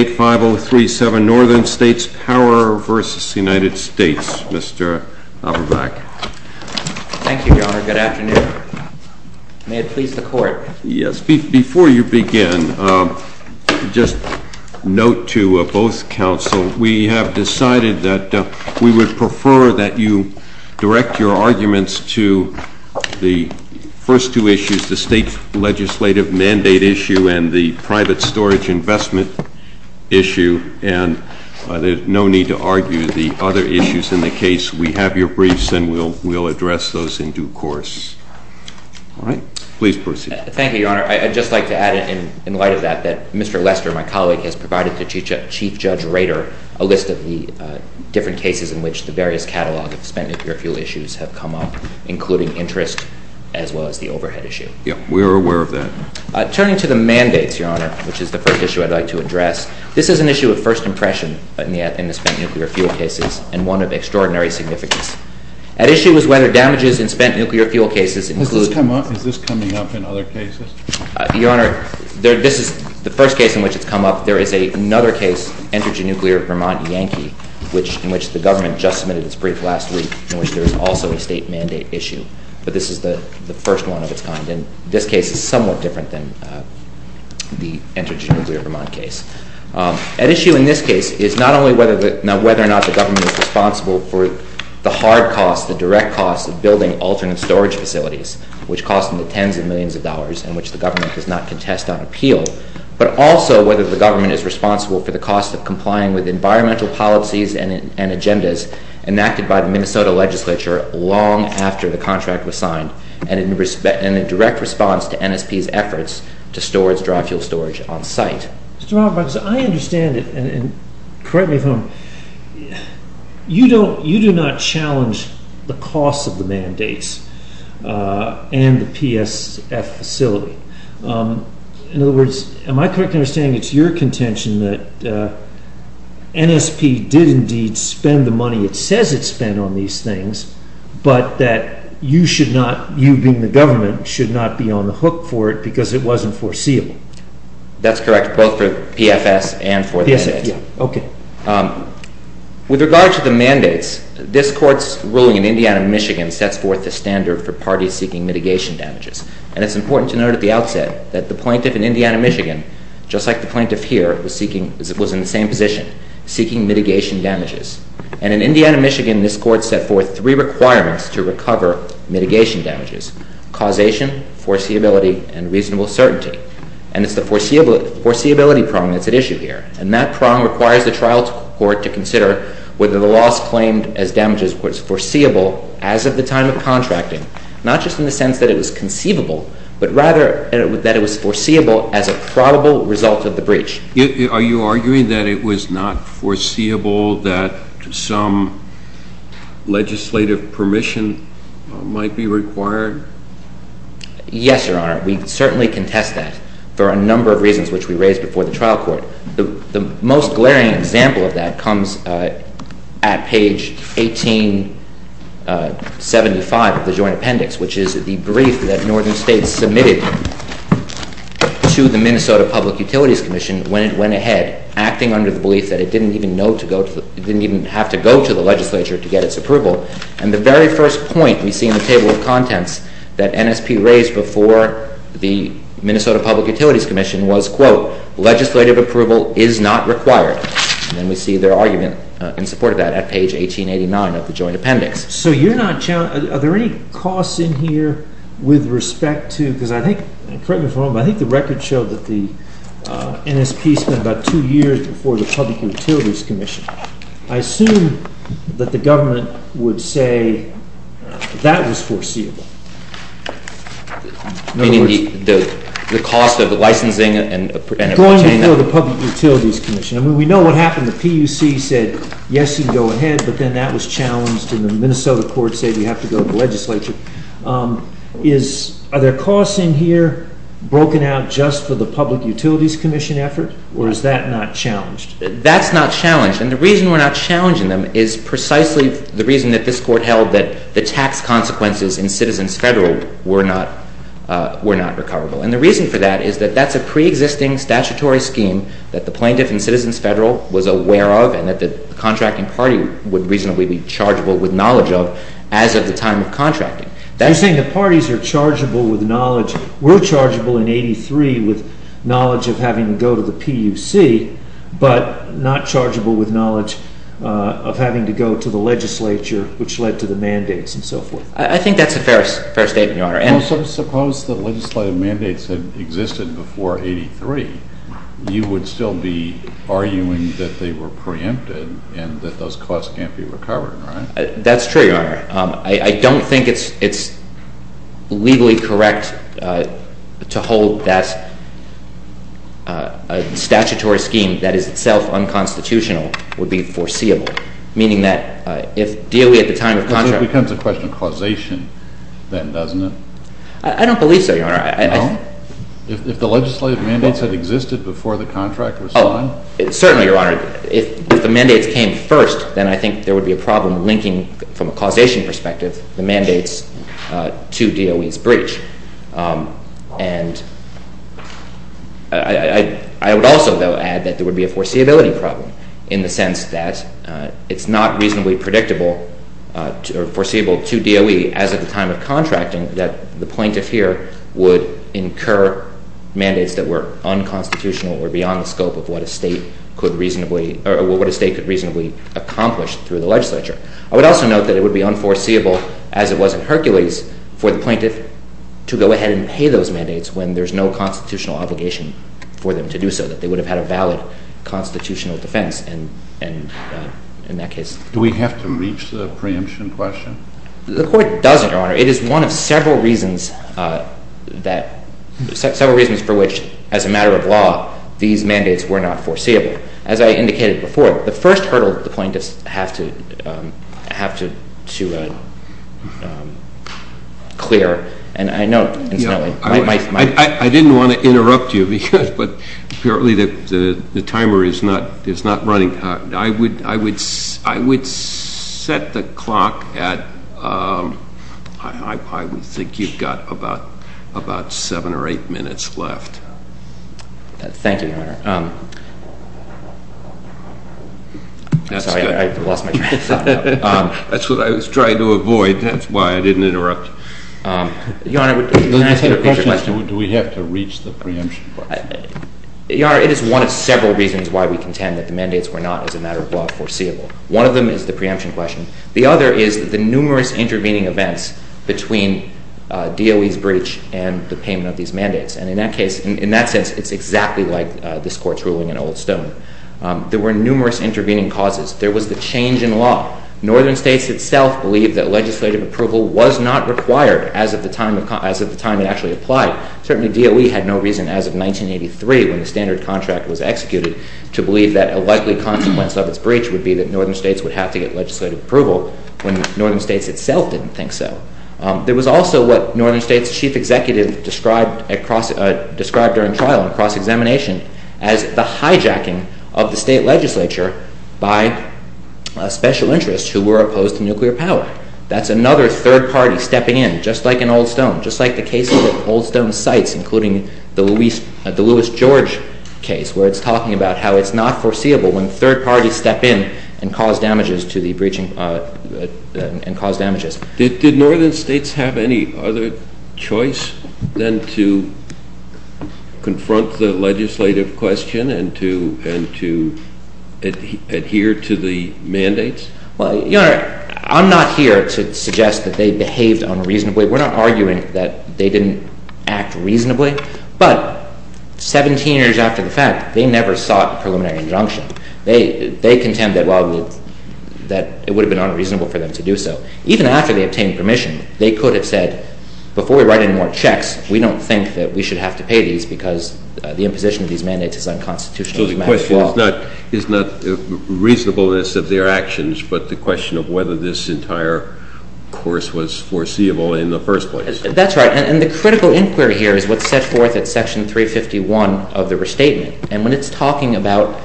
MR. ABERBACK. Thank you, Your Honor. Good afternoon. May it please the Court. THE COURT. Yes. Before you begin, just note to both counsel, we have decided that we would prefer that you direct your arguments to the first two issues, the state legislative mandate issue and the private storage investment issue. And there's no need to argue the other issues in the case. We have your briefs, and we'll address those in due course. All right. Please proceed. MR. LEISTER. Thank you, Your Honor. I'd just like to add, in light of that, that Mr. Leister, my colleague, has provided to Chief Judge Rader a list of the different cases in which the various catalog of spent nuclear fuel issues have come up, including interest as well as the overhead issue. THE COURT. Yes. We are aware of that. MR. LEISTER. Turning to the mandates, Your Honor, which is the first issue I'd like to address, this is an issue of first impression in the spent nuclear fuel cases and one of extraordinary significance. At issue is whether damages in spent nuclear fuel cases include— THE COURT. Has this come up? Is this coming up in other cases? MR. LEISTER. Your Honor, this is the first case in which it's come up. There is another case, energy nuclear Vermont Yankee, in which the government just submitted its brief last week, in which there is also a state mandate issue. But this is the first one of its kind, and this case is somewhat different than the energy nuclear Vermont case. At issue in this case is not only whether or not the government is responsible for the hard costs, the direct costs of building alternate storage facilities, which cost them the tens of millions of dollars and which the government does not contest on appeal, but also whether the government is responsible for the cost of complying with environmental policies and agendas enacted by the Minnesota legislature long after the contract was signed and in direct response to NSP's efforts to store its dry fuel storage on site. THE COURT. Mr. Roberts, I understand it, and correct me if I'm wrong. You do not challenge the costs of the mandates and the PSF facility. In other words, am I correct in understanding it's your contention that NSP did indeed spend the money it says it spent on these things, but that you should not, you being the government, should not be on the hook for it because it wasn't foreseeable? MR. RUBENSTEIN. That's correct, both for the PFS and for the mandates. THE COURT. Okay. MR. RUBENSTEIN. With regard to the mandates, this Court's ruling in Indiana, Michigan, sets forth the standard for parties seeking mitigation damages. And it's important to note at the outset that the plaintiff in Indiana, Michigan, just like the plaintiff here, was in the same position, seeking mitigation damages. And in Indiana, Michigan, this Court set forth three requirements to recover mitigation damages, causation, foreseeability, and reasonable certainty. And it's the foreseeability prong that's at issue here. And that prong requires the trial court to consider whether the loss claimed as damages was foreseeable as of the time of contracting, not just in the sense that it was conceivable, but rather that it was foreseeable as a probable result of the breach. THE COURT. Are you arguing that it was not foreseeable that some legislative permission might be required? MR. RUBENSTEIN. Yes, Your Honor. We certainly contest that for a number of reasons which we raised before the trial court. The most glaring example of that comes at page 1875 of the Joint Appendix, which is the brief that Northern States submitted to the Minnesota Public Utilities Commission when it went ahead, acting under the belief that it didn't even have to go to the legislature to get its approval. And the very first point we see in the table of contents that NSP raised before the Minnesota Public Utilities Commission was, quote, legislative approval is not required. And we see their argument in support of that at page 1889 of the Joint Appendix. THE COURT. So you're not – are there any costs in here with respect to – because I think – and correct me if I'm wrong, but I think the record showed that the NSP spent about two years before the Public Utilities Commission. I assume that the government would say that was foreseeable. MR. RUBENSTEIN. Meaning the cost of the licensing and obtaining that? MR. RUBENSTEIN. And also the Public Utilities Commission. I mean, we know what happened. The PUC said, yes, you can go ahead, but then that was challenged, and the Minnesota court said you have to go to the legislature. Is – are there costs in here broken out just for the Public Utilities Commission effort, or is that not challenged? MR. RUBENSTEIN. That's not challenged. And the reason we're not challenging them is precisely the reason that this Court held that the tax consequences in Citizens Federal were not – were not recoverable. And the reason for that is that that's a preexisting statutory scheme that the plaintiff in Citizens Federal was aware of and that the contracting party would reasonably be chargeable with knowledge of as of the time of contracting. CHIEF JUSTICE ROBERTSON. You're saying the parties are chargeable with knowledge – were chargeable in 83 with knowledge of having to go to the PUC, but not chargeable with knowledge of having to go to the legislature, which led to the mandates and so forth? MR. RUBENSTEIN. I think that's a fair statement, Your Honor. CHIEF JUSTICE ROBERTSON. Well, suppose the legislative mandates had existed before 83, you would still be arguing that they were preempted and that those costs can't be recovered, right? MR. RUBENSTEIN. That's true, Your Honor. I don't think it's legally correct to hold that a statutory scheme that is itself unconstitutional would be foreseeable, meaning that if DOE at the time of contract— CHIEF JUSTICE ROBERTSON. So it becomes a question of causation then, doesn't it? MR. RUBENSTEIN. I don't believe so, Your Honor. CHIEF JUSTICE ROBERTSON. No? If the legislative mandates had existed before the contract was signed? MR. RUBENSTEIN. Certainly, Your Honor. If the mandates came first, then I think there would be a problem linking, from a causation perspective, the mandates to DOE's breach. And I would also, though, add that there would be a foreseeability problem, in the sense that it's not reasonably predictable or foreseeable to DOE, as at the time of contracting, that the plaintiff here would incur mandates that were unconstitutional or beyond the scope of what a state could reasonably accomplish through the legislature. I would also note that it would be unforeseeable, as it was in Hercules, for the plaintiff to go ahead and pay those mandates when there's no constitutional obligation for them to do so, that they would have had a valid constitutional defense in that case. CHIEF JUSTICE ROBERTSON. Do we have to reach the preemption question? MR. RUBENSTEIN. The Court doesn't, Your Honor. It is one of several reasons for which, as a matter of law, these mandates were not foreseeable. As I indicated before, the first hurdle the plaintiffs have to clear, and I know, incidentally, my... I would think you've got about seven or eight minutes left. MR. RUBENSTEIN. Thank you, Your Honor. CHIEF JUSTICE ROBERTSON. That's good. MR. RUBENSTEIN. Sorry, I lost my train of thought. CHIEF JUSTICE ROBERTSON. That's what I was trying to avoid. That's why I didn't interrupt. MR. RUBENSTEIN. Your Honor, can I ask you a question? CHIEF JUSTICE ROBERTSON. Do we have to reach the preemption question? MR. RUBENSTEIN. Your Honor, it is one of several reasons why we contend that the mandates were not, as a matter of law, foreseeable. One of them is the preemption question. The other is the numerous intervening events between DOE's breach and the payment of these mandates. And in that case, in that sense, it's exactly like this Court's ruling in Old Stone. There were numerous intervening causes. There was the change in law. Northern states itself believed that legislative approval was not required as of the time it actually applied. Certainly, DOE had no reason, as of 1983, when the standard contract was executed, to believe that a likely consequence of its breach would be that northern states would have to get legislative approval, when northern states itself didn't think so. There was also what northern states' chief executive described during trial and cross-examination as the hijacking of the state legislature by special interests who were opposed to nuclear power. That's another third party stepping in, just like in Old Stone, just like the case that Old Stone cites, including the Louis George case, where it's talking about how it's not foreseeable when third parties step in and cause damages. Did northern states have any other choice than to confront the legislative question and to adhere to the mandates? Well, Your Honor, I'm not here to suggest that they behaved unreasonably. We're not arguing that they didn't act reasonably. But 17 years after the fact, they never sought a preliminary injunction. They contended that it would have been unreasonable for them to do so. Even after they obtained permission, they could have said, before we write any more checks, we don't think that we should have to pay these because the imposition of these mandates is unconstitutional. So the question is not reasonableness of their actions, but the question of whether this entire course was foreseeable in the first place. That's right. And the critical inquiry here is what's set forth at section 351 of the restatement. And when it's talking about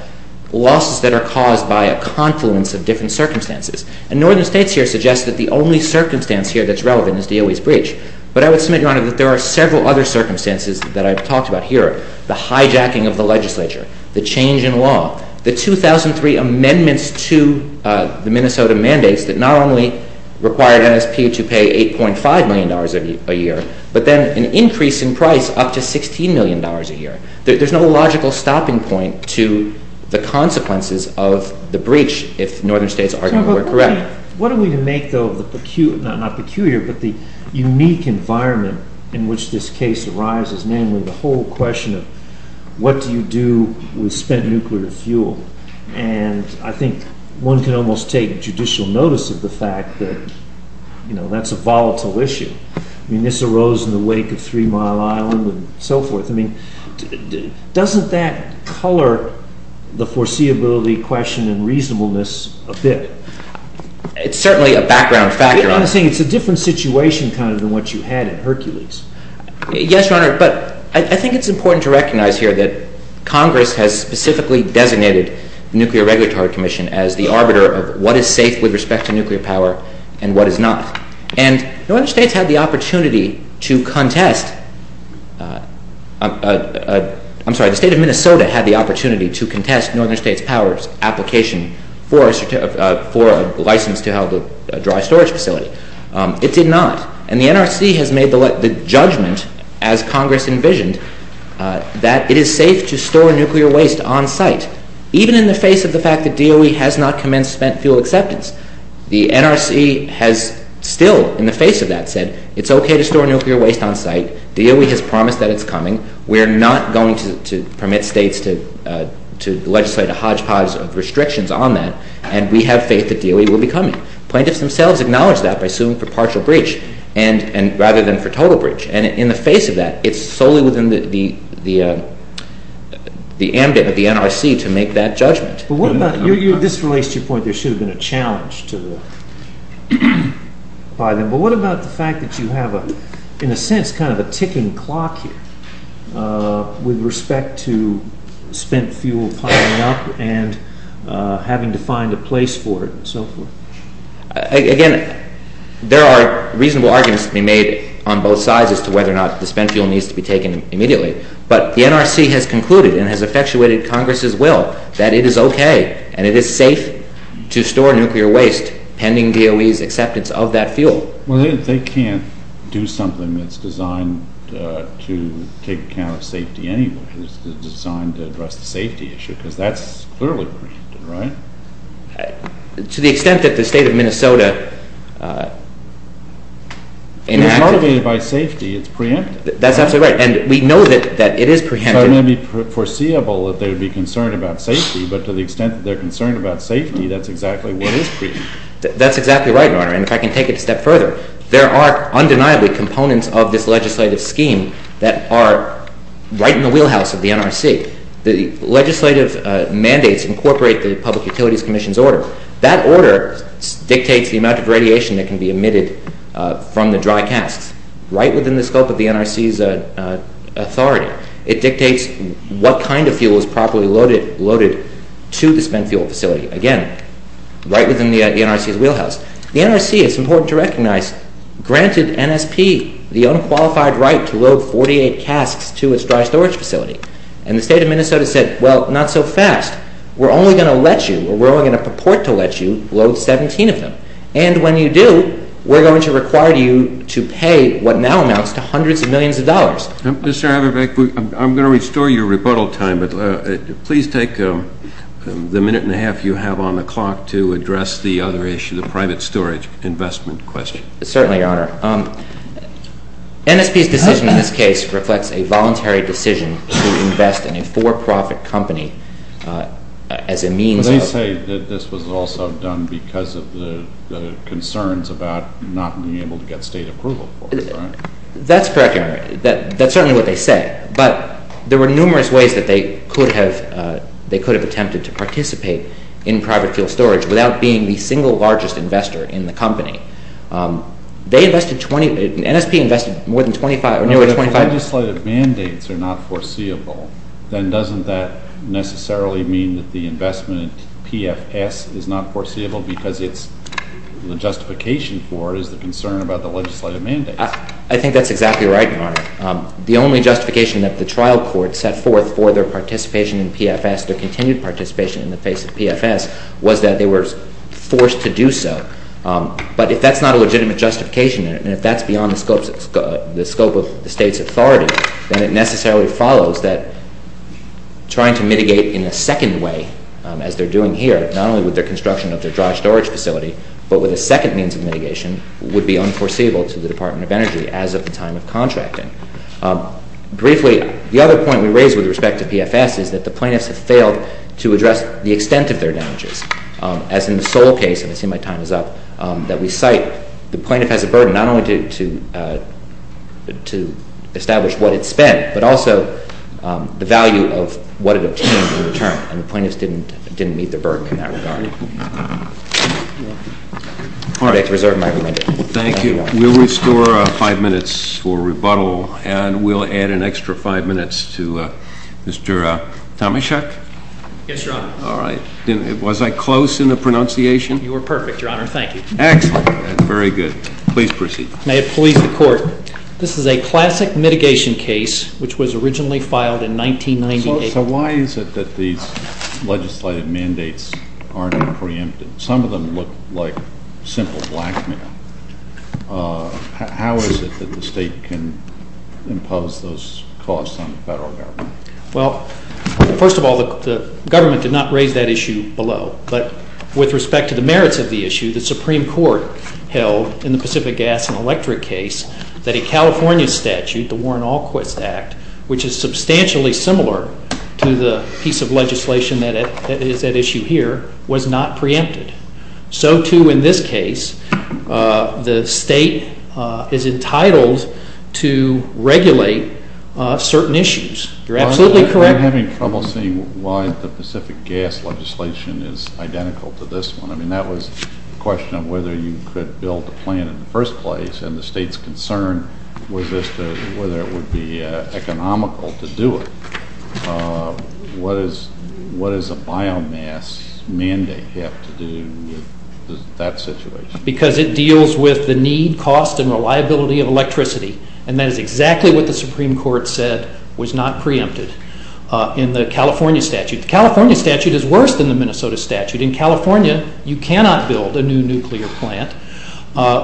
losses that are caused by a confluence of different circumstances. And northern states here suggest that the only circumstance here that's relevant is DOE's breach. But I would submit, Your Honor, that there are several other circumstances that I've talked about here. The hijacking of the legislature. The change in law. The 2003 amendments to the Minnesota mandates that not only required NSP to pay $8.5 million a year, but then an increase in price up to $16 million a year. There's no logical stopping point to the consequences of the breach, if northern states argue that we're correct. What are we to make, though, of the unique environment in which this case arises? Namely, the whole question of what do you do with spent nuclear fuel? And I think one can almost take judicial notice of the fact that that's a volatile issue. I mean, this arose in the wake of Three Mile Island and so forth. I mean, doesn't that color the foreseeability question and reasonableness a bit? It's certainly a background factor. It's a different situation kind of than what you had in Hercules. Yes, Your Honor. But I think it's important to recognize here that Congress has specifically designated the Nuclear Regulatory Commission as the arbiter of what is safe with respect to nuclear power and what is not. And northern states had the opportunity to contest – I'm sorry, the state of Minnesota had the opportunity to contest northern states' powers application for a license to have a dry storage facility. It did not. And the NRC has made the judgment, as Congress envisioned, that it is safe to store nuclear waste on site, even in the face of the fact that DOE has not commenced spent fuel acceptance. The NRC has still, in the face of that, said it's okay to store nuclear waste on site. DOE has promised that it's coming. We're not going to permit states to legislate a hodgepodge of restrictions on that. And we have faith that DOE will be coming. Plaintiffs themselves acknowledge that by suing for partial breach rather than for total breach. And in the face of that, it's solely within the ambit of the NRC to make that judgment. But what about – this relates to your point there should have been a challenge to the – but what about the fact that you have, in a sense, kind of a ticking clock here with respect to spent fuel piling up and having to find a place for it and so forth? Again, there are reasonable arguments to be made on both sides as to whether or not the spent fuel needs to be taken immediately. But the NRC has concluded and has effectuated Congress's will that it is okay and it is safe to store nuclear waste pending DOE's acceptance of that fuel. Well, they can't do something that's designed to take account of safety anyway. It's designed to address the safety issue because that's clearly preempted, right? To the extent that the state of Minnesota – If it's motivated by safety, it's preempted. That's absolutely right, and we know that it is preempted. So it may be foreseeable that they would be concerned about safety, but to the extent that they're concerned about safety, that's exactly what is preempted. That's exactly right, Your Honor, and if I can take it a step further, there are undeniably components of this legislative scheme that are right in the wheelhouse of the NRC. The legislative mandates incorporate the Public Utilities Commission's order. That order dictates the amount of radiation that can be emitted from the dry casks. Right within the scope of the NRC's authority. It dictates what kind of fuel is properly loaded to the spent fuel facility. Again, right within the NRC's wheelhouse. The NRC, it's important to recognize, granted NSP the unqualified right to load 48 casks to its dry storage facility. And the state of Minnesota said, well, not so fast. We're only going to let you, or we're only going to purport to let you, load 17 of them. And when you do, we're going to require you to pay what now amounts to hundreds of millions of dollars. Mr. Haberbeck, I'm going to restore your rebuttal time, but please take the minute and a half you have on the clock to address the other issue, the private storage investment question. Certainly, Your Honor. NSP's decision in this case reflects a voluntary decision to invest in a for-profit company as a means of I would say that this was also done because of the concerns about not being able to get state approval for it. That's correct, Your Honor. That's certainly what they said. But there were numerous ways that they could have attempted to participate in private fuel storage without being the single largest investor in the company. They invested, NSP invested more than 25 or nearly 25 If legislative mandates are not foreseeable, then doesn't that necessarily mean that the investment in PFS is not foreseeable because the justification for it is the concern about the legislative mandates? I think that's exactly right, Your Honor. The only justification that the trial court set forth for their participation in PFS, their continued participation in the face of PFS, was that they were forced to do so. But if that's not a legitimate justification, and if that's beyond the scope of the state's authority, then it necessarily follows that trying to mitigate in a second way, as they're doing here, not only with their construction of their dry storage facility, but with a second means of mitigation, would be unforeseeable to the Department of Energy as of the time of contracting. Briefly, the other point we raise with respect to PFS is that the plaintiffs have failed to address the extent of their damages. As in the Sol case, and I see my time is up, that we cite, the plaintiff has a burden not only to establish what it spent, but also the value of what it obtained in return. And the plaintiffs didn't meet the burden in that regard. I'd like to reserve my remand. Thank you. We'll restore five minutes for rebuttal, and we'll add an extra five minutes to Mr. Tomashev. Yes, Your Honor. All right. Was I close in the pronunciation? You were perfect, Your Honor. Thank you. Excellent. Very good. Please proceed. May it please the Court. This is a classic mitigation case, which was originally filed in 1998. So why is it that these legislative mandates aren't preempted? Some of them look like simple blackmail. How is it that the state can impose those costs on the federal government? Well, first of all, the government did not raise that issue below. But with respect to the merits of the issue, the Supreme Court held in the Pacific Gas and Electric case that a California statute, the Warren-Alquist Act, which is substantially similar to the piece of legislation that is at issue here, was not preempted. So, too, in this case, the state is entitled to regulate certain issues. You're absolutely correct. I'm having trouble seeing why the Pacific Gas legislation is identical to this one. I mean, that was a question of whether you could build a plant in the first place, and the state's concern was as to whether it would be economical to do it. What does a biomass mandate have to do with that situation? Because it deals with the need, cost, and reliability of electricity, and that is exactly what the Supreme Court said was not preempted in the California statute. The California statute is worse than the Minnesota statute. In California, you cannot build a new nuclear plant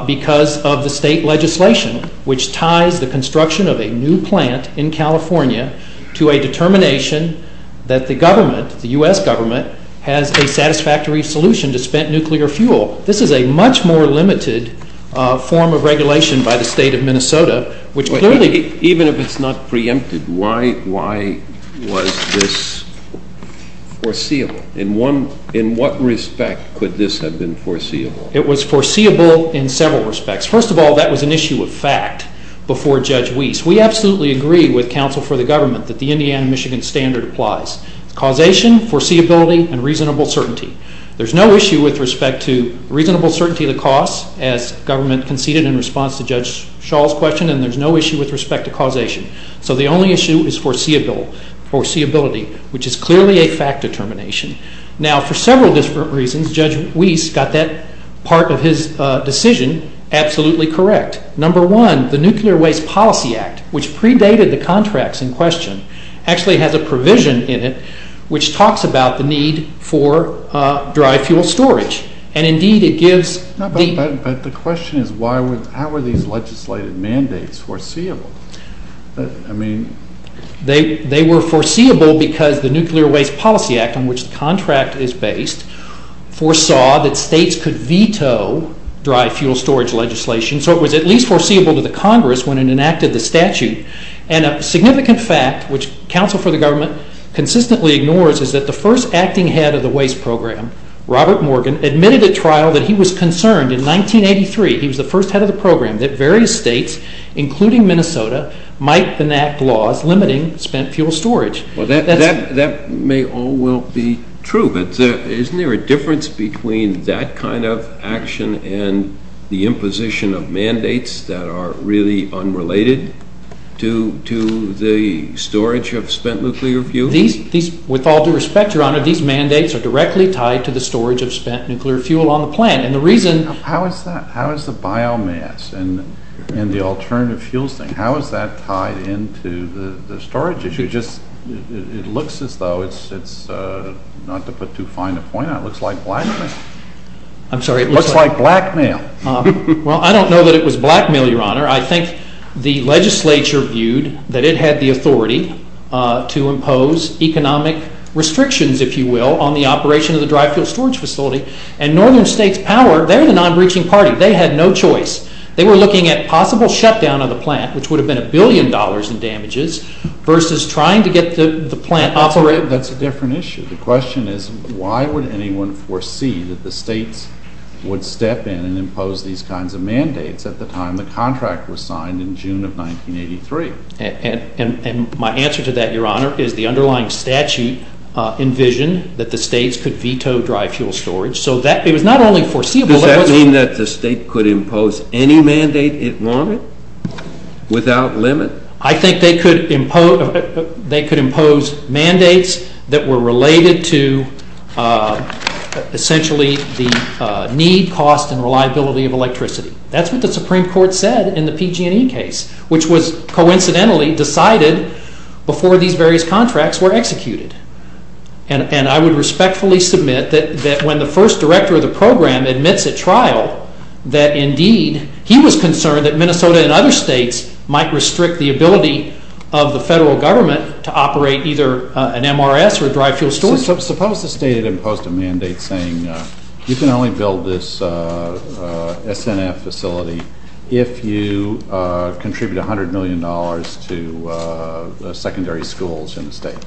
because of the state legislation, which ties the construction of a new plant in California to a determination that the government, the U.S. government, has a satisfactory solution to spent nuclear fuel. This is a much more limited form of regulation by the state of Minnesota. Even if it's not preempted, why was this foreseeable? In what respect could this have been foreseeable? It was foreseeable in several respects. First of all, that was an issue of fact before Judge Weiss. We absolutely agree with counsel for the government that the Indiana-Michigan standard applies. It's causation, foreseeability, and reasonable certainty. There's no issue with respect to reasonable certainty of the cost, as government conceded in response to Judge Shaw's question, and there's no issue with respect to causation. So the only issue is foreseeability, which is clearly a fact determination. Now, for several different reasons, Judge Weiss got that part of his decision absolutely correct. Number one, the Nuclear Waste Policy Act, which predated the contracts in question, actually has a provision in it which talks about the need for dry fuel storage, and indeed it gives the— But the question is how were these legislated mandates foreseeable? I mean— They were foreseeable because the Nuclear Waste Policy Act on which the contract is based foresaw that states could veto dry fuel storage legislation, so it was at least foreseeable to the Congress when it enacted the statute. And a significant fact, which counsel for the government consistently ignores, is that the first acting head of the waste program, Robert Morgan, admitted at trial that he was concerned in 1983—he was the first head of the program— that various states, including Minnesota, might enact laws limiting spent fuel storage. Well, that may all well be true, but isn't there a difference between that kind of action and the imposition of mandates that are really unrelated to the storage of spent nuclear fuel? With all due respect, Your Honor, these mandates are directly tied to the storage of spent nuclear fuel on the plant, and the reason— How is that? How is the biomass and the alternative fuels thing, how is that tied into the storage issue? It looks as though it's—not to put too fine a point on it—it looks like blackmail. I'm sorry? It looks like blackmail. Well, I don't know that it was blackmail, Your Honor. I think the legislature viewed that it had the authority to impose economic restrictions, if you will, on the operation of the dry fuel storage facility, and Northern States Power, they're the non-breaching party. They had no choice. They were looking at possible shutdown of the plant, which would have been a billion dollars in damages, versus trying to get the plant operated. That's a different issue. The question is, why would anyone foresee that the states would step in and impose these kinds of mandates at the time the contract was signed in June of 1983? And my answer to that, Your Honor, is the underlying statute envisioned that the states could veto dry fuel storage. So that—it was not only foreseeable— Does that mean that the state could impose any mandate it wanted, without limit? I think they could impose mandates that were related to, essentially, the need, cost, and reliability of electricity. That's what the Supreme Court said in the PG&E case, which was coincidentally decided before these various contracts were executed. And I would respectfully submit that when the first director of the program admits at trial that, indeed, he was concerned that Minnesota and other states might restrict the ability of the federal government to operate either an MRS or dry fuel storage. Suppose the state had imposed a mandate saying, you can only build this SNF facility if you contribute $100 million to secondary schools in the state.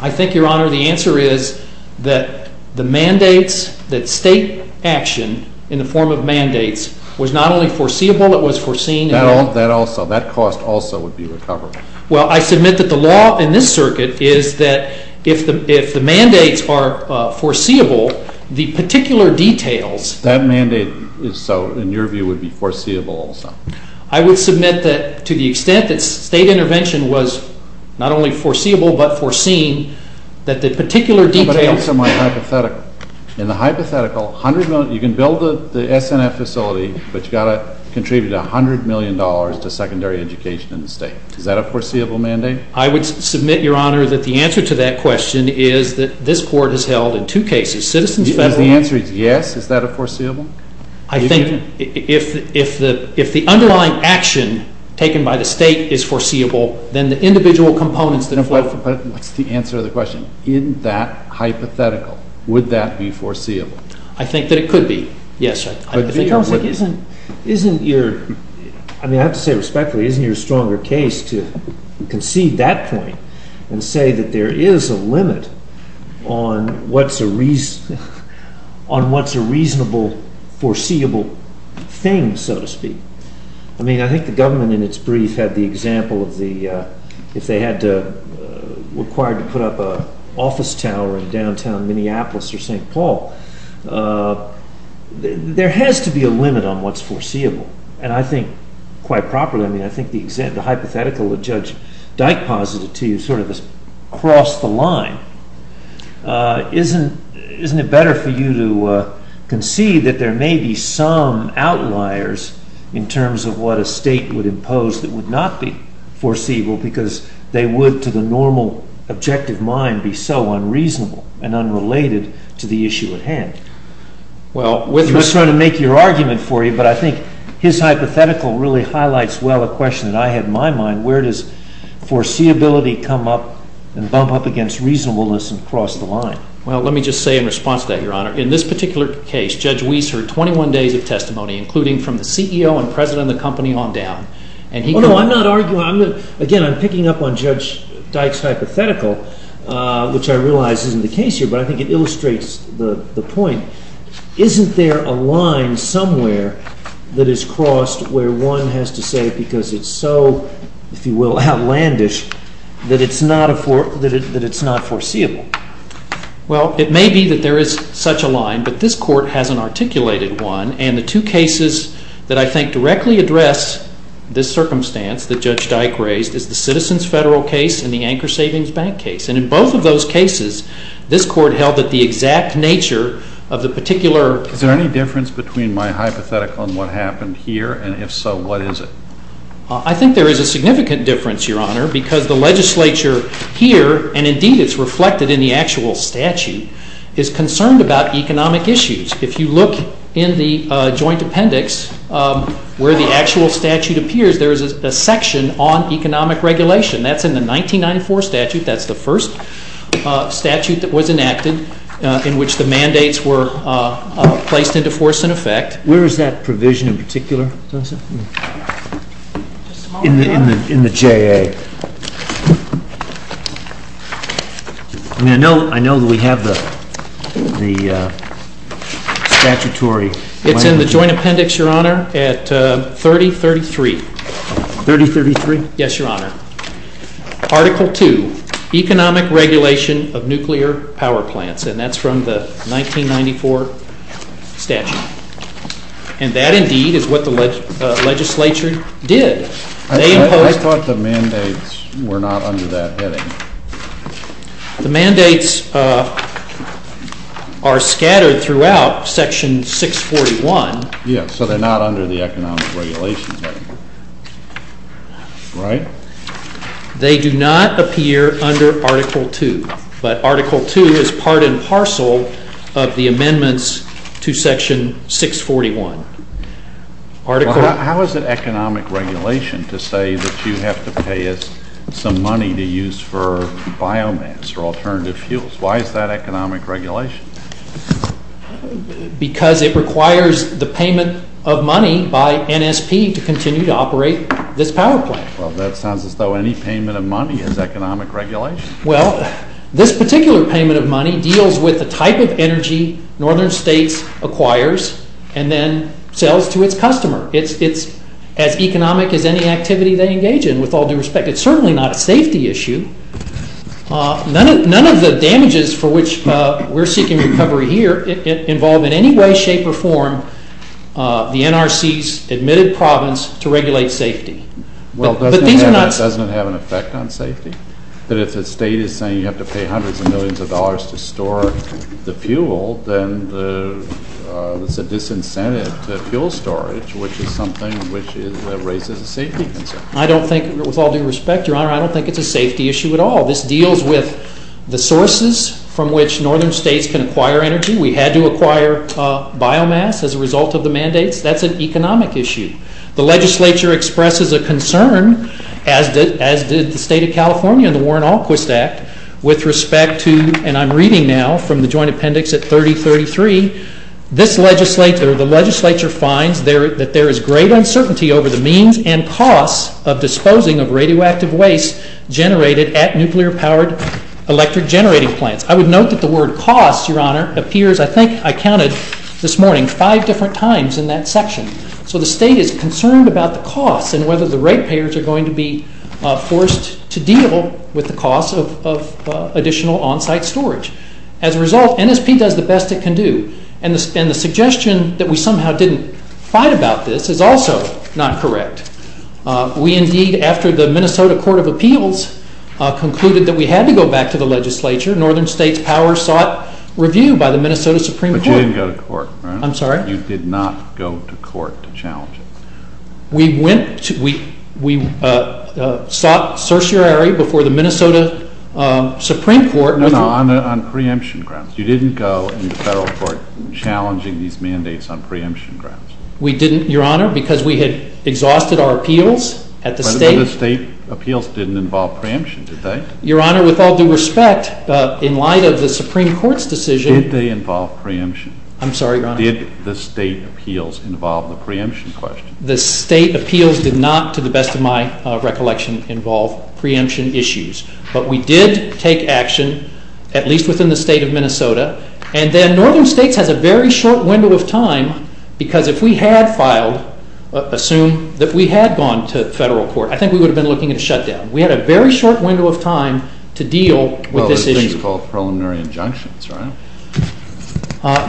I think, Your Honor, the answer is that the mandates— that state action in the form of mandates was not only foreseeable, it was foreseen— That also—that cost also would be recovered. Well, I submit that the law in this circuit is that if the mandates are foreseeable, the particular details— That mandate is so, in your view, would be foreseeable also. I would submit that to the extent that state intervention was not only foreseeable but foreseen, that the particular details— I'm going to answer my hypothetical. In the hypothetical, you can build the SNF facility, but you've got to contribute $100 million to secondary education in the state. Is that a foreseeable mandate? I would submit, Your Honor, that the answer to that question is that this Court has held in two cases, Citizens Federal— If the answer is yes, is that a foreseeable? I think if the underlying action taken by the state is foreseeable, then the individual components that— But what's the answer to the question? In that hypothetical, would that be foreseeable? I think that it could be. Yes, I think— But, Your Honor, isn't your—I mean, I have to say respectfully, isn't your stronger case to concede that point and say that there is a limit on what's a reasonable, foreseeable thing, so to speak? I mean, I think the government, in its brief, had the example of the— if they had to—required to put up an office tower in downtown Minneapolis or St. Paul, there has to be a limit on what's foreseeable. And I think, quite properly, I mean, I think the hypothetical that Judge Dyke posited to you sort of has crossed the line. Isn't it better for you to concede that there may be some outliers in terms of what a state would impose that would not be foreseeable because they would, to the normal, objective mind, be so unreasonable and unrelated to the issue at hand? Well, with respect— His hypothetical really highlights well a question that I have in my mind. Where does foreseeability come up and bump up against reasonableness and cross the line? Well, let me just say in response to that, Your Honor, in this particular case, Judge Weiss heard 21 days of testimony, including from the CEO and president of the company on down. And he— Well, no, I'm not arguing—again, I'm picking up on Judge Dyke's hypothetical, which I realize isn't the case here, but I think it illustrates the point. Isn't there a line somewhere that is crossed where one has to say because it's so, if you will, outlandish, that it's not foreseeable? Well, it may be that there is such a line, but this Court has an articulated one. And the two cases that I think directly address this circumstance that Judge Dyke raised is the Citizens' Federal case and the Anchor Savings Bank case. And in both of those cases, this Court held that the exact nature of the particular— Is there any difference between my hypothetical and what happened here? And if so, what is it? I think there is a significant difference, Your Honor, because the legislature here, and indeed it's reflected in the actual statute, is concerned about economic issues. If you look in the joint appendix where the actual statute appears, there is a section on economic regulation. That's in the 1994 statute. That's the first statute that was enacted in which the mandates were placed into force and effect. Where is that provision in particular? In the JA. I mean, I know that we have the statutory language. It's in the joint appendix, Your Honor, at 3033. 3033? Yes, Your Honor. Article 2, Economic Regulation of Nuclear Power Plants. And that's from the 1994 statute. And that, indeed, is what the legislature did. I thought the mandates were not under that heading. The mandates are scattered throughout Section 641. Yes, so they're not under the economic regulation heading. Right? They do not appear under Article 2. But Article 2 is part and parcel of the amendments to Section 641. How is it economic regulation to say that you have to pay us some money to use for biomass or alternative fuels? Why is that economic regulation? Because it requires the payment of money by NSP to continue to operate this power plant. Well, that sounds as though any payment of money is economic regulation. Well, this particular payment of money deals with the type of energy Northern States acquires and then sells to its customer. It's as economic as any activity they engage in, with all due respect. It's certainly not a safety issue. None of the damages for which we're seeking recovery here involve in any way, shape, or form the NRC's admitted province to regulate safety. Well, doesn't it have an effect on safety? That if the state is saying you have to pay hundreds of millions of dollars to store the fuel, then it's a disincentive to fuel storage, which is something which raises a safety concern. I don't think, with all due respect, Your Honor, I don't think it's a safety issue at all. This deals with the sources from which Northern States can acquire energy. We had to acquire biomass as a result of the mandates. That's an economic issue. The legislature expresses a concern, as did the State of California in the Warren-Alquist Act, with respect to, and I'm reading now from the joint appendix at 3033, this legislature, the legislature finds that there is great uncertainty over the means and costs of disposing of radioactive waste generated at nuclear-powered electric generating plants. I would note that the word costs, Your Honor, appears, I think I counted this morning, five different times in that section. So the state is concerned about the costs and whether the ratepayers are going to be forced to deal with the costs of additional on-site storage. As a result, NSP does the best it can do. And the suggestion that we somehow didn't fight about this is also not correct. We indeed, after the Minnesota Court of Appeals concluded that we had to go back to the legislature, Northern States Powers sought review by the Minnesota Supreme Court. But you didn't go to court, Your Honor. I'm sorry? You did not go to court to challenge it. We went, we sought certiorari before the Minnesota Supreme Court. No, no, on preemption grounds. You didn't go to the federal court challenging these mandates on preemption grounds. We didn't, Your Honor, because we had exhausted our appeals at the state. But the state appeals didn't involve preemption, did they? Your Honor, with all due respect, in light of the Supreme Court's decision. Did they involve preemption? I'm sorry, Your Honor. Did the state appeals involve the preemption question? The state appeals did not, to the best of my recollection, involve preemption issues. But we did take action, at least within the state of Minnesota. And then Northern States has a very short window of time, because if we had filed, assume that we had gone to federal court, I think we would have been looking at a shutdown. We had a very short window of time to deal with this issue. Well, there's things called preliminary injunctions, right?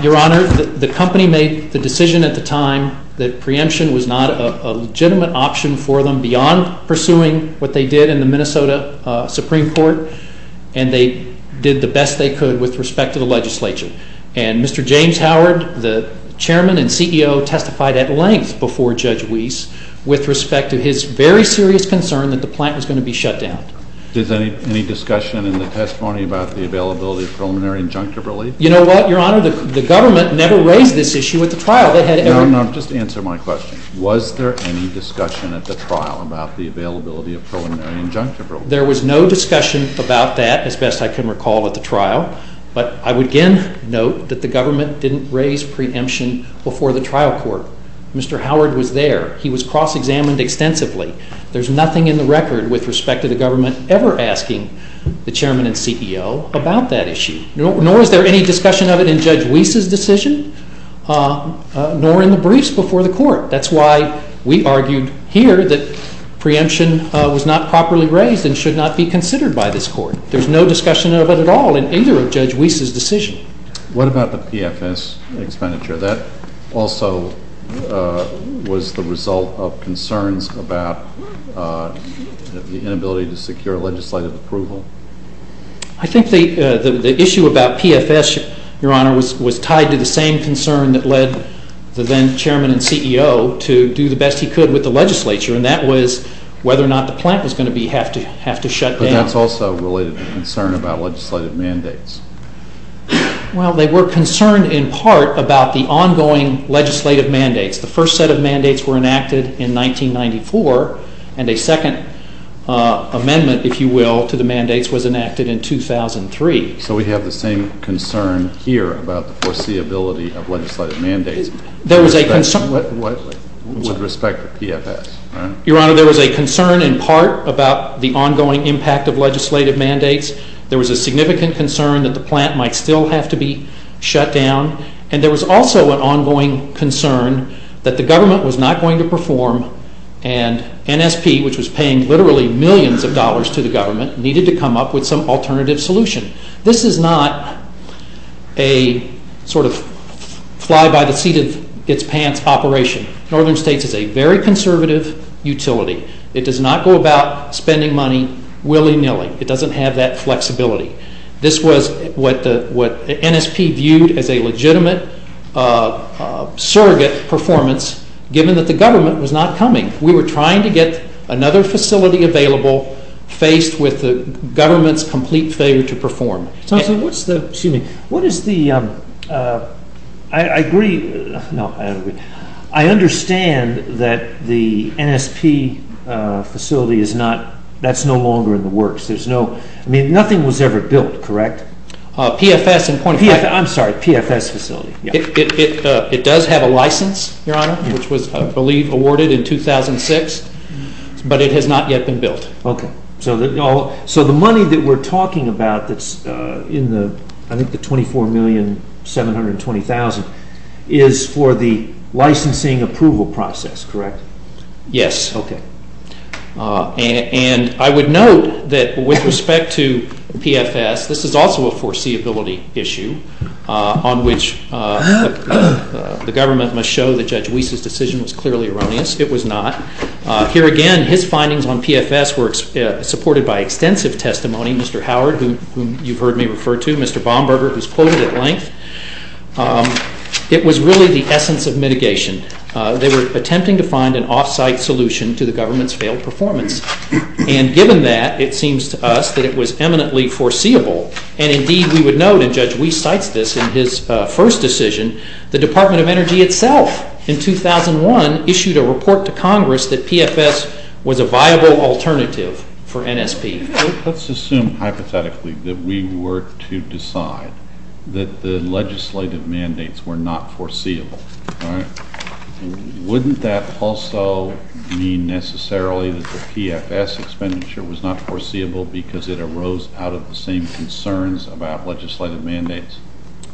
Your Honor, the company made the decision at the time that preemption was not a legitimate option for them beyond pursuing what they did in the Minnesota Supreme Court. And they did the best they could with respect to the legislature. And Mr. James Howard, the chairman and CEO, testified at length before Judge Weiss with respect to his very serious concern that the plant was going to be shut down. Is there any discussion in the testimony about the availability of preliminary injunctive relief? You know what, Your Honor? The government never raised this issue at the trial. No, no. Just answer my question. Was there any discussion at the trial about the availability of preliminary injunctive relief? There was no discussion about that, as best I can recall, at the trial. But I would again note that the government didn't raise preemption before the trial court. Mr. Howard was there. He was cross-examined extensively. There's nothing in the record with respect to the government ever asking the chairman and CEO about that issue. Nor is there any discussion of it in Judge Weiss's decision, nor in the briefs before the court. That's why we argued here that preemption was not properly raised and should not be considered by this court. There's no discussion of it at all in either of Judge Weiss's decisions. What about the PFS expenditure? That also was the result of concerns about the inability to secure legislative approval. I think the issue about PFS, Your Honor, was tied to the same concern that led the then chairman and CEO to do the best he could with the legislature, and that was whether or not the plant was going to have to shut down. But that's also related to concern about legislative mandates. Well, they were concerned in part about the ongoing legislative mandates. The first set of mandates were enacted in 1994, and a second amendment, if you will, to the mandates was enacted in 2003. So we have the same concern here about the foreseeability of legislative mandates with respect to PFS, right? Your Honor, there was a concern in part about the ongoing impact of legislative mandates. There was a significant concern that the plant might still have to be shut down, and there was also an ongoing concern that the government was not going to perform, and NSP, which was paying literally millions of dollars to the government, needed to come up with some alternative solution. This is not a sort of fly-by-the-seat-of-its-pants operation. Northern States is a very conservative utility. It does not go about spending money willy-nilly. It doesn't have that flexibility. This was what NSP viewed as a legitimate surrogate performance, given that the government was not coming. We were trying to get another facility available, faced with the government's complete failure to perform. I understand that the NSP facility is no longer in the works. Nothing was ever built, correct? PFS facility. It does have a license, Your Honor, which was awarded in 2006, but it has not yet been built. Okay. So the money that we're talking about that's in the $24,720,000 is for the licensing approval process, correct? Yes. Okay. And I would note that with respect to PFS, this is also a foreseeability issue, on which the government must show that Judge Wiese's decision was clearly erroneous. It was not. Here again, his findings on PFS were supported by extensive testimony. Mr. Howard, whom you've heard me refer to, Mr. Bomberger, who's quoted at length. It was really the essence of mitigation. They were attempting to find an off-site solution to the government's failed performance. And given that, it seems to us that it was eminently foreseeable. And indeed, we would note, and Judge Wiese cites this in his first decision, the Department of Energy itself, in 2001, issued a report to Congress that PFS was a viable alternative for NSP. Let's assume hypothetically that we were to decide that the legislative mandates were not foreseeable. Wouldn't that also mean necessarily that the PFS expenditure was not foreseeable because it arose out of the same concerns about legislative mandates?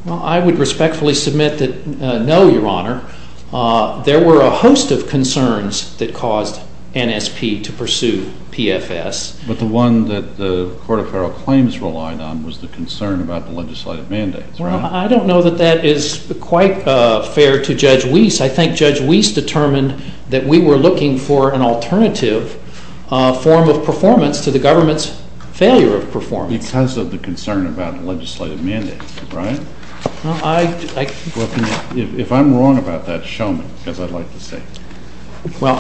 Well, I would respectfully submit that no, Your Honor. There were a host of concerns that caused NSP to pursue PFS. But the one that the Court of Federal Claims relied on was the concern about the legislative mandates, right? Well, I don't know that that is quite fair to Judge Wiese. I think Judge Wiese determined that we were looking for an alternative form of performance to the government's failure of performance. Because of the concern about legislative mandates, right? Well, if I'm wrong about that, show me, because I'd like to see. Well,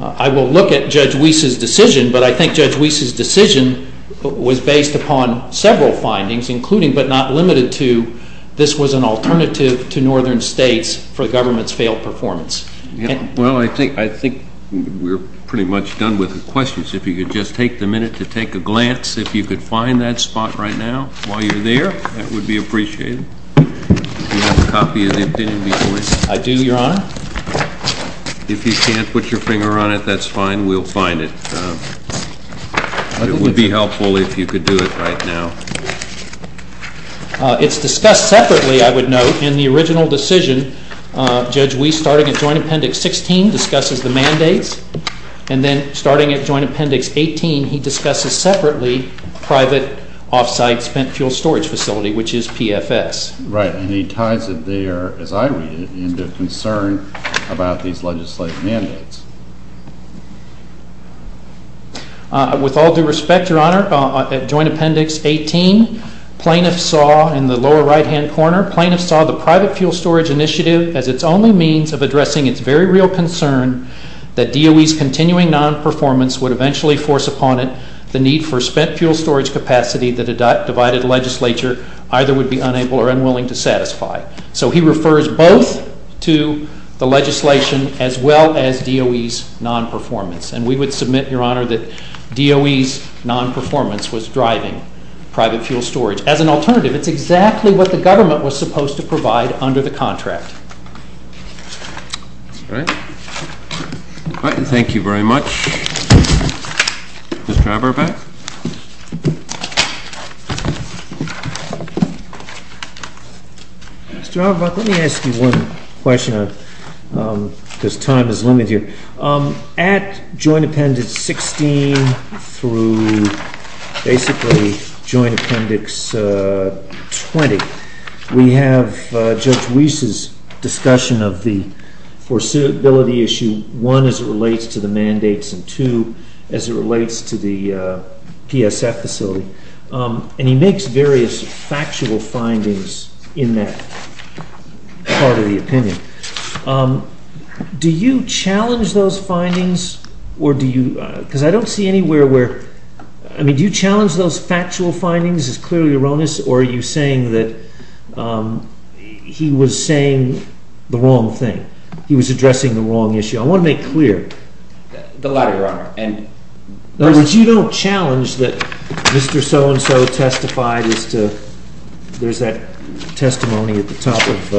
I will look at Judge Wiese's decision, but I think Judge Wiese's decision was based upon several findings, including but not limited to this was an alternative to northern states for the government's failed performance. Well, I think we're pretty much done with the questions. If you could just take the minute to take a glance, if you could find that spot right now while you're there, that would be appreciated. Do you have a copy of the opinion before you? I do, Your Honor. If you can't put your finger on it, that's fine. We'll find it. It would be helpful if you could do it right now. It's discussed separately, I would note, in the original decision. Judge Wiese, starting at Joint Appendix 16, discusses the mandates. And then starting at Joint Appendix 18, he discusses separately private off-site spent fuel storage facility, which is PFS. Right. And he ties it there, as I read it, into concern about these legislative mandates. With all due respect, Your Honor, at Joint Appendix 18, plaintiffs saw in the lower right-hand corner, plaintiffs saw the private fuel storage initiative as its only means of addressing its very real concern that DOE's continuing non-performance would eventually force upon it the need for spent fuel storage capacity that a divided legislature either would be unable or unwilling to satisfy. So he refers both to the legislation as well as DOE's non-performance. And we would submit, Your Honor, that DOE's non-performance was driving private fuel storage. As an alternative, it's exactly what the government was supposed to provide under the contract. All right. Thank you very much. Mr. Auerbach? Mr. Auerbach, let me ask you one question because time is limited here. At Joint Appendix 16 through basically Joint Appendix 20, we have Judge Wiese's discussion of the forcibility issue, one, as it relates to the mandates, and two, as it relates to the PSF facility. And he makes various factual findings in that part of the opinion. Do you challenge those findings or do you—because I don't see anywhere where— I mean, do you challenge those factual findings as clearly erroneous or are you saying that he was saying the wrong thing, he was addressing the wrong issue? I want to make clear. The latter, Your Honor. In other words, you don't challenge that Mr. So-and-so testified as to— there's that testimony at the top of,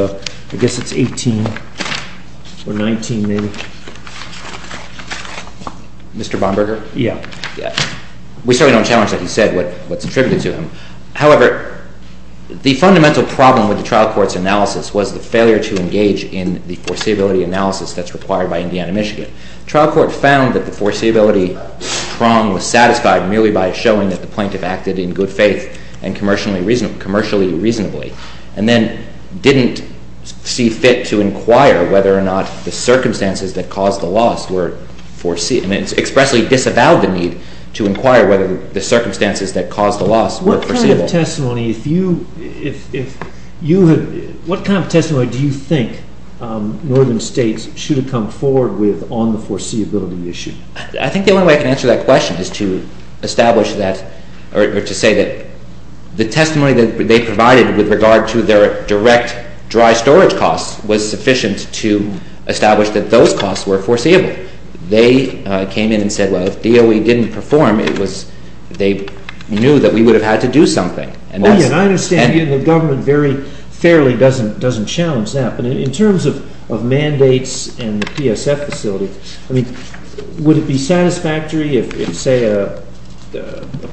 I guess it's 18 or 19 maybe. Mr. Bomberger? Yeah. We certainly don't challenge what he said, what's attributed to him. However, the fundamental problem with the trial court's analysis was the failure to engage in the foreseeability analysis that's required by Indiana-Michigan. The trial court found that the foreseeability prong was satisfied merely by showing that the plaintiff acted in good faith and commercially reasonably and then didn't see fit to inquire whether or not the circumstances that caused the loss were foreseen. It expressly disavowed the need to inquire whether the circumstances that caused the loss were foreseeable. What kind of testimony do you think northern states should have come forward with on the foreseeability issue? I think the only way I can answer that question is to establish that— or to say that the testimony that they provided with regard to their direct dry storage costs was sufficient to establish that those costs were foreseeable. They came in and said, well, if DOE didn't perform, they knew that we would have had to do something. I understand the government very fairly doesn't challenge that. But in terms of mandates and the PSF facility, would it be satisfactory if, say, a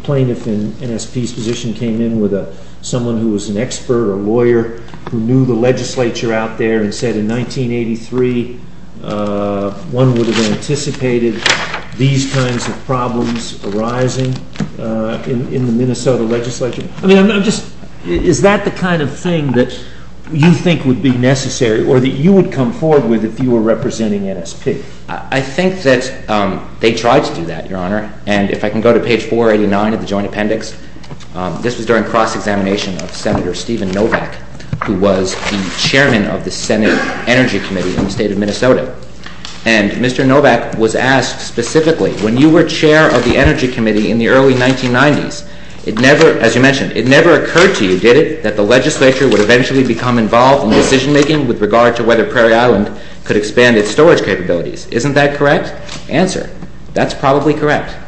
plaintiff in NSP's position came in with someone who was an expert or a lawyer who knew the legislature out there and said in 1983 one would have anticipated these kinds of problems arising in the Minnesota legislature? I mean, I'm just—is that the kind of thing that you think would be necessary or that you would come forward with if you were representing NSP? I think that they tried to do that, Your Honor. And if I can go to page 489 of the Joint Appendix, this was during cross-examination of Senator Stephen Novak, who was the chairman of the Senate Energy Committee in the state of Minnesota. And Mr. Novak was asked specifically, when you were chair of the Energy Committee in the early 1990s, as you mentioned, it never occurred to you, did it, that the legislature would eventually become involved in decision-making with regard to whether Prairie Island could expand its storage capabilities. Isn't that correct? Answer, that's probably correct. In fact,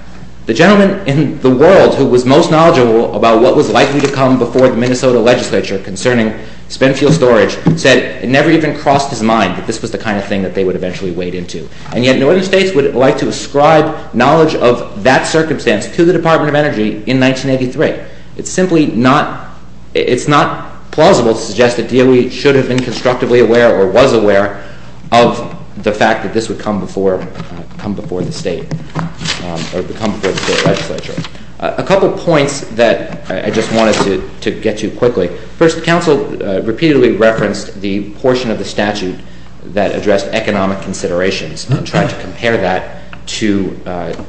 the gentleman in the world who was most knowledgeable about what was likely to come before the Minnesota legislature concerning spent fuel storage said it never even crossed his mind that this was the kind of thing that they would eventually wade into. And yet, Northern states would like to ascribe knowledge of that circumstance to the Department of Energy in 1983. It's simply not—it's not plausible to suggest that DOE should have been constructively aware or was aware of the fact that this would come before the state or come before the state legislature. A couple points that I just wanted to get to quickly. First, counsel repeatedly referenced the portion of the statute that addressed economic considerations and tried to compare that to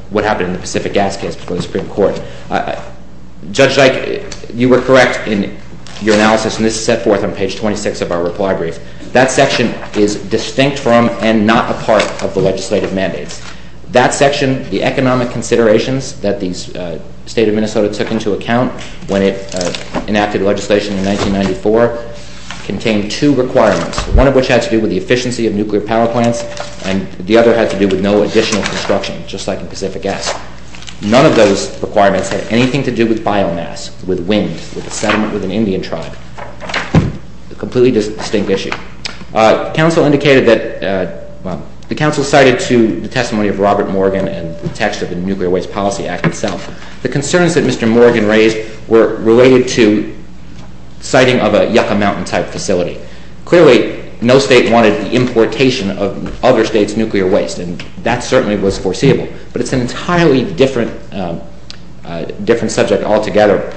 what happened in the Pacific gas case before the Supreme Court. Judge Dyke, you were correct in your analysis, and this is set forth on page 26 of our reply brief. That section is distinct from and not a part of the legislative mandates. That section, the economic considerations that the state of Minnesota took into account when it enacted legislation in 1994 contained two requirements, one of which had to do with the efficiency of nuclear power plants and the other had to do with no additional construction, just like in Pacific gas. None of those requirements had anything to do with biomass, with wind, with a settlement with an Indian tribe. A completely distinct issue. Counsel indicated that—well, the counsel cited to the testimony of Robert Morgan and the text of the Nuclear Waste Policy Act itself, the concerns that Mr. Morgan raised were related to citing of a Yucca Mountain-type facility. Clearly, no state wanted the importation of other states' nuclear waste, and that certainly was foreseeable, but it's an entirely different subject altogether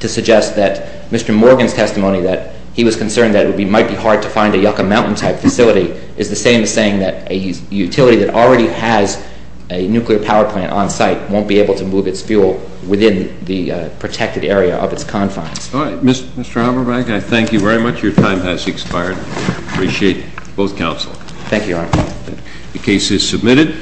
to suggest that Mr. Morgan's testimony that he was concerned that it might be hard to find a Yucca Mountain-type facility is the same as saying that a utility that already has a nuclear power plant on site won't be able to move its fuel within the protected area of its confines. All right. Mr. Haberbeck, I thank you very much. Your time has expired. I appreciate both counsel. Thank you, Your Honor. The case is submitted.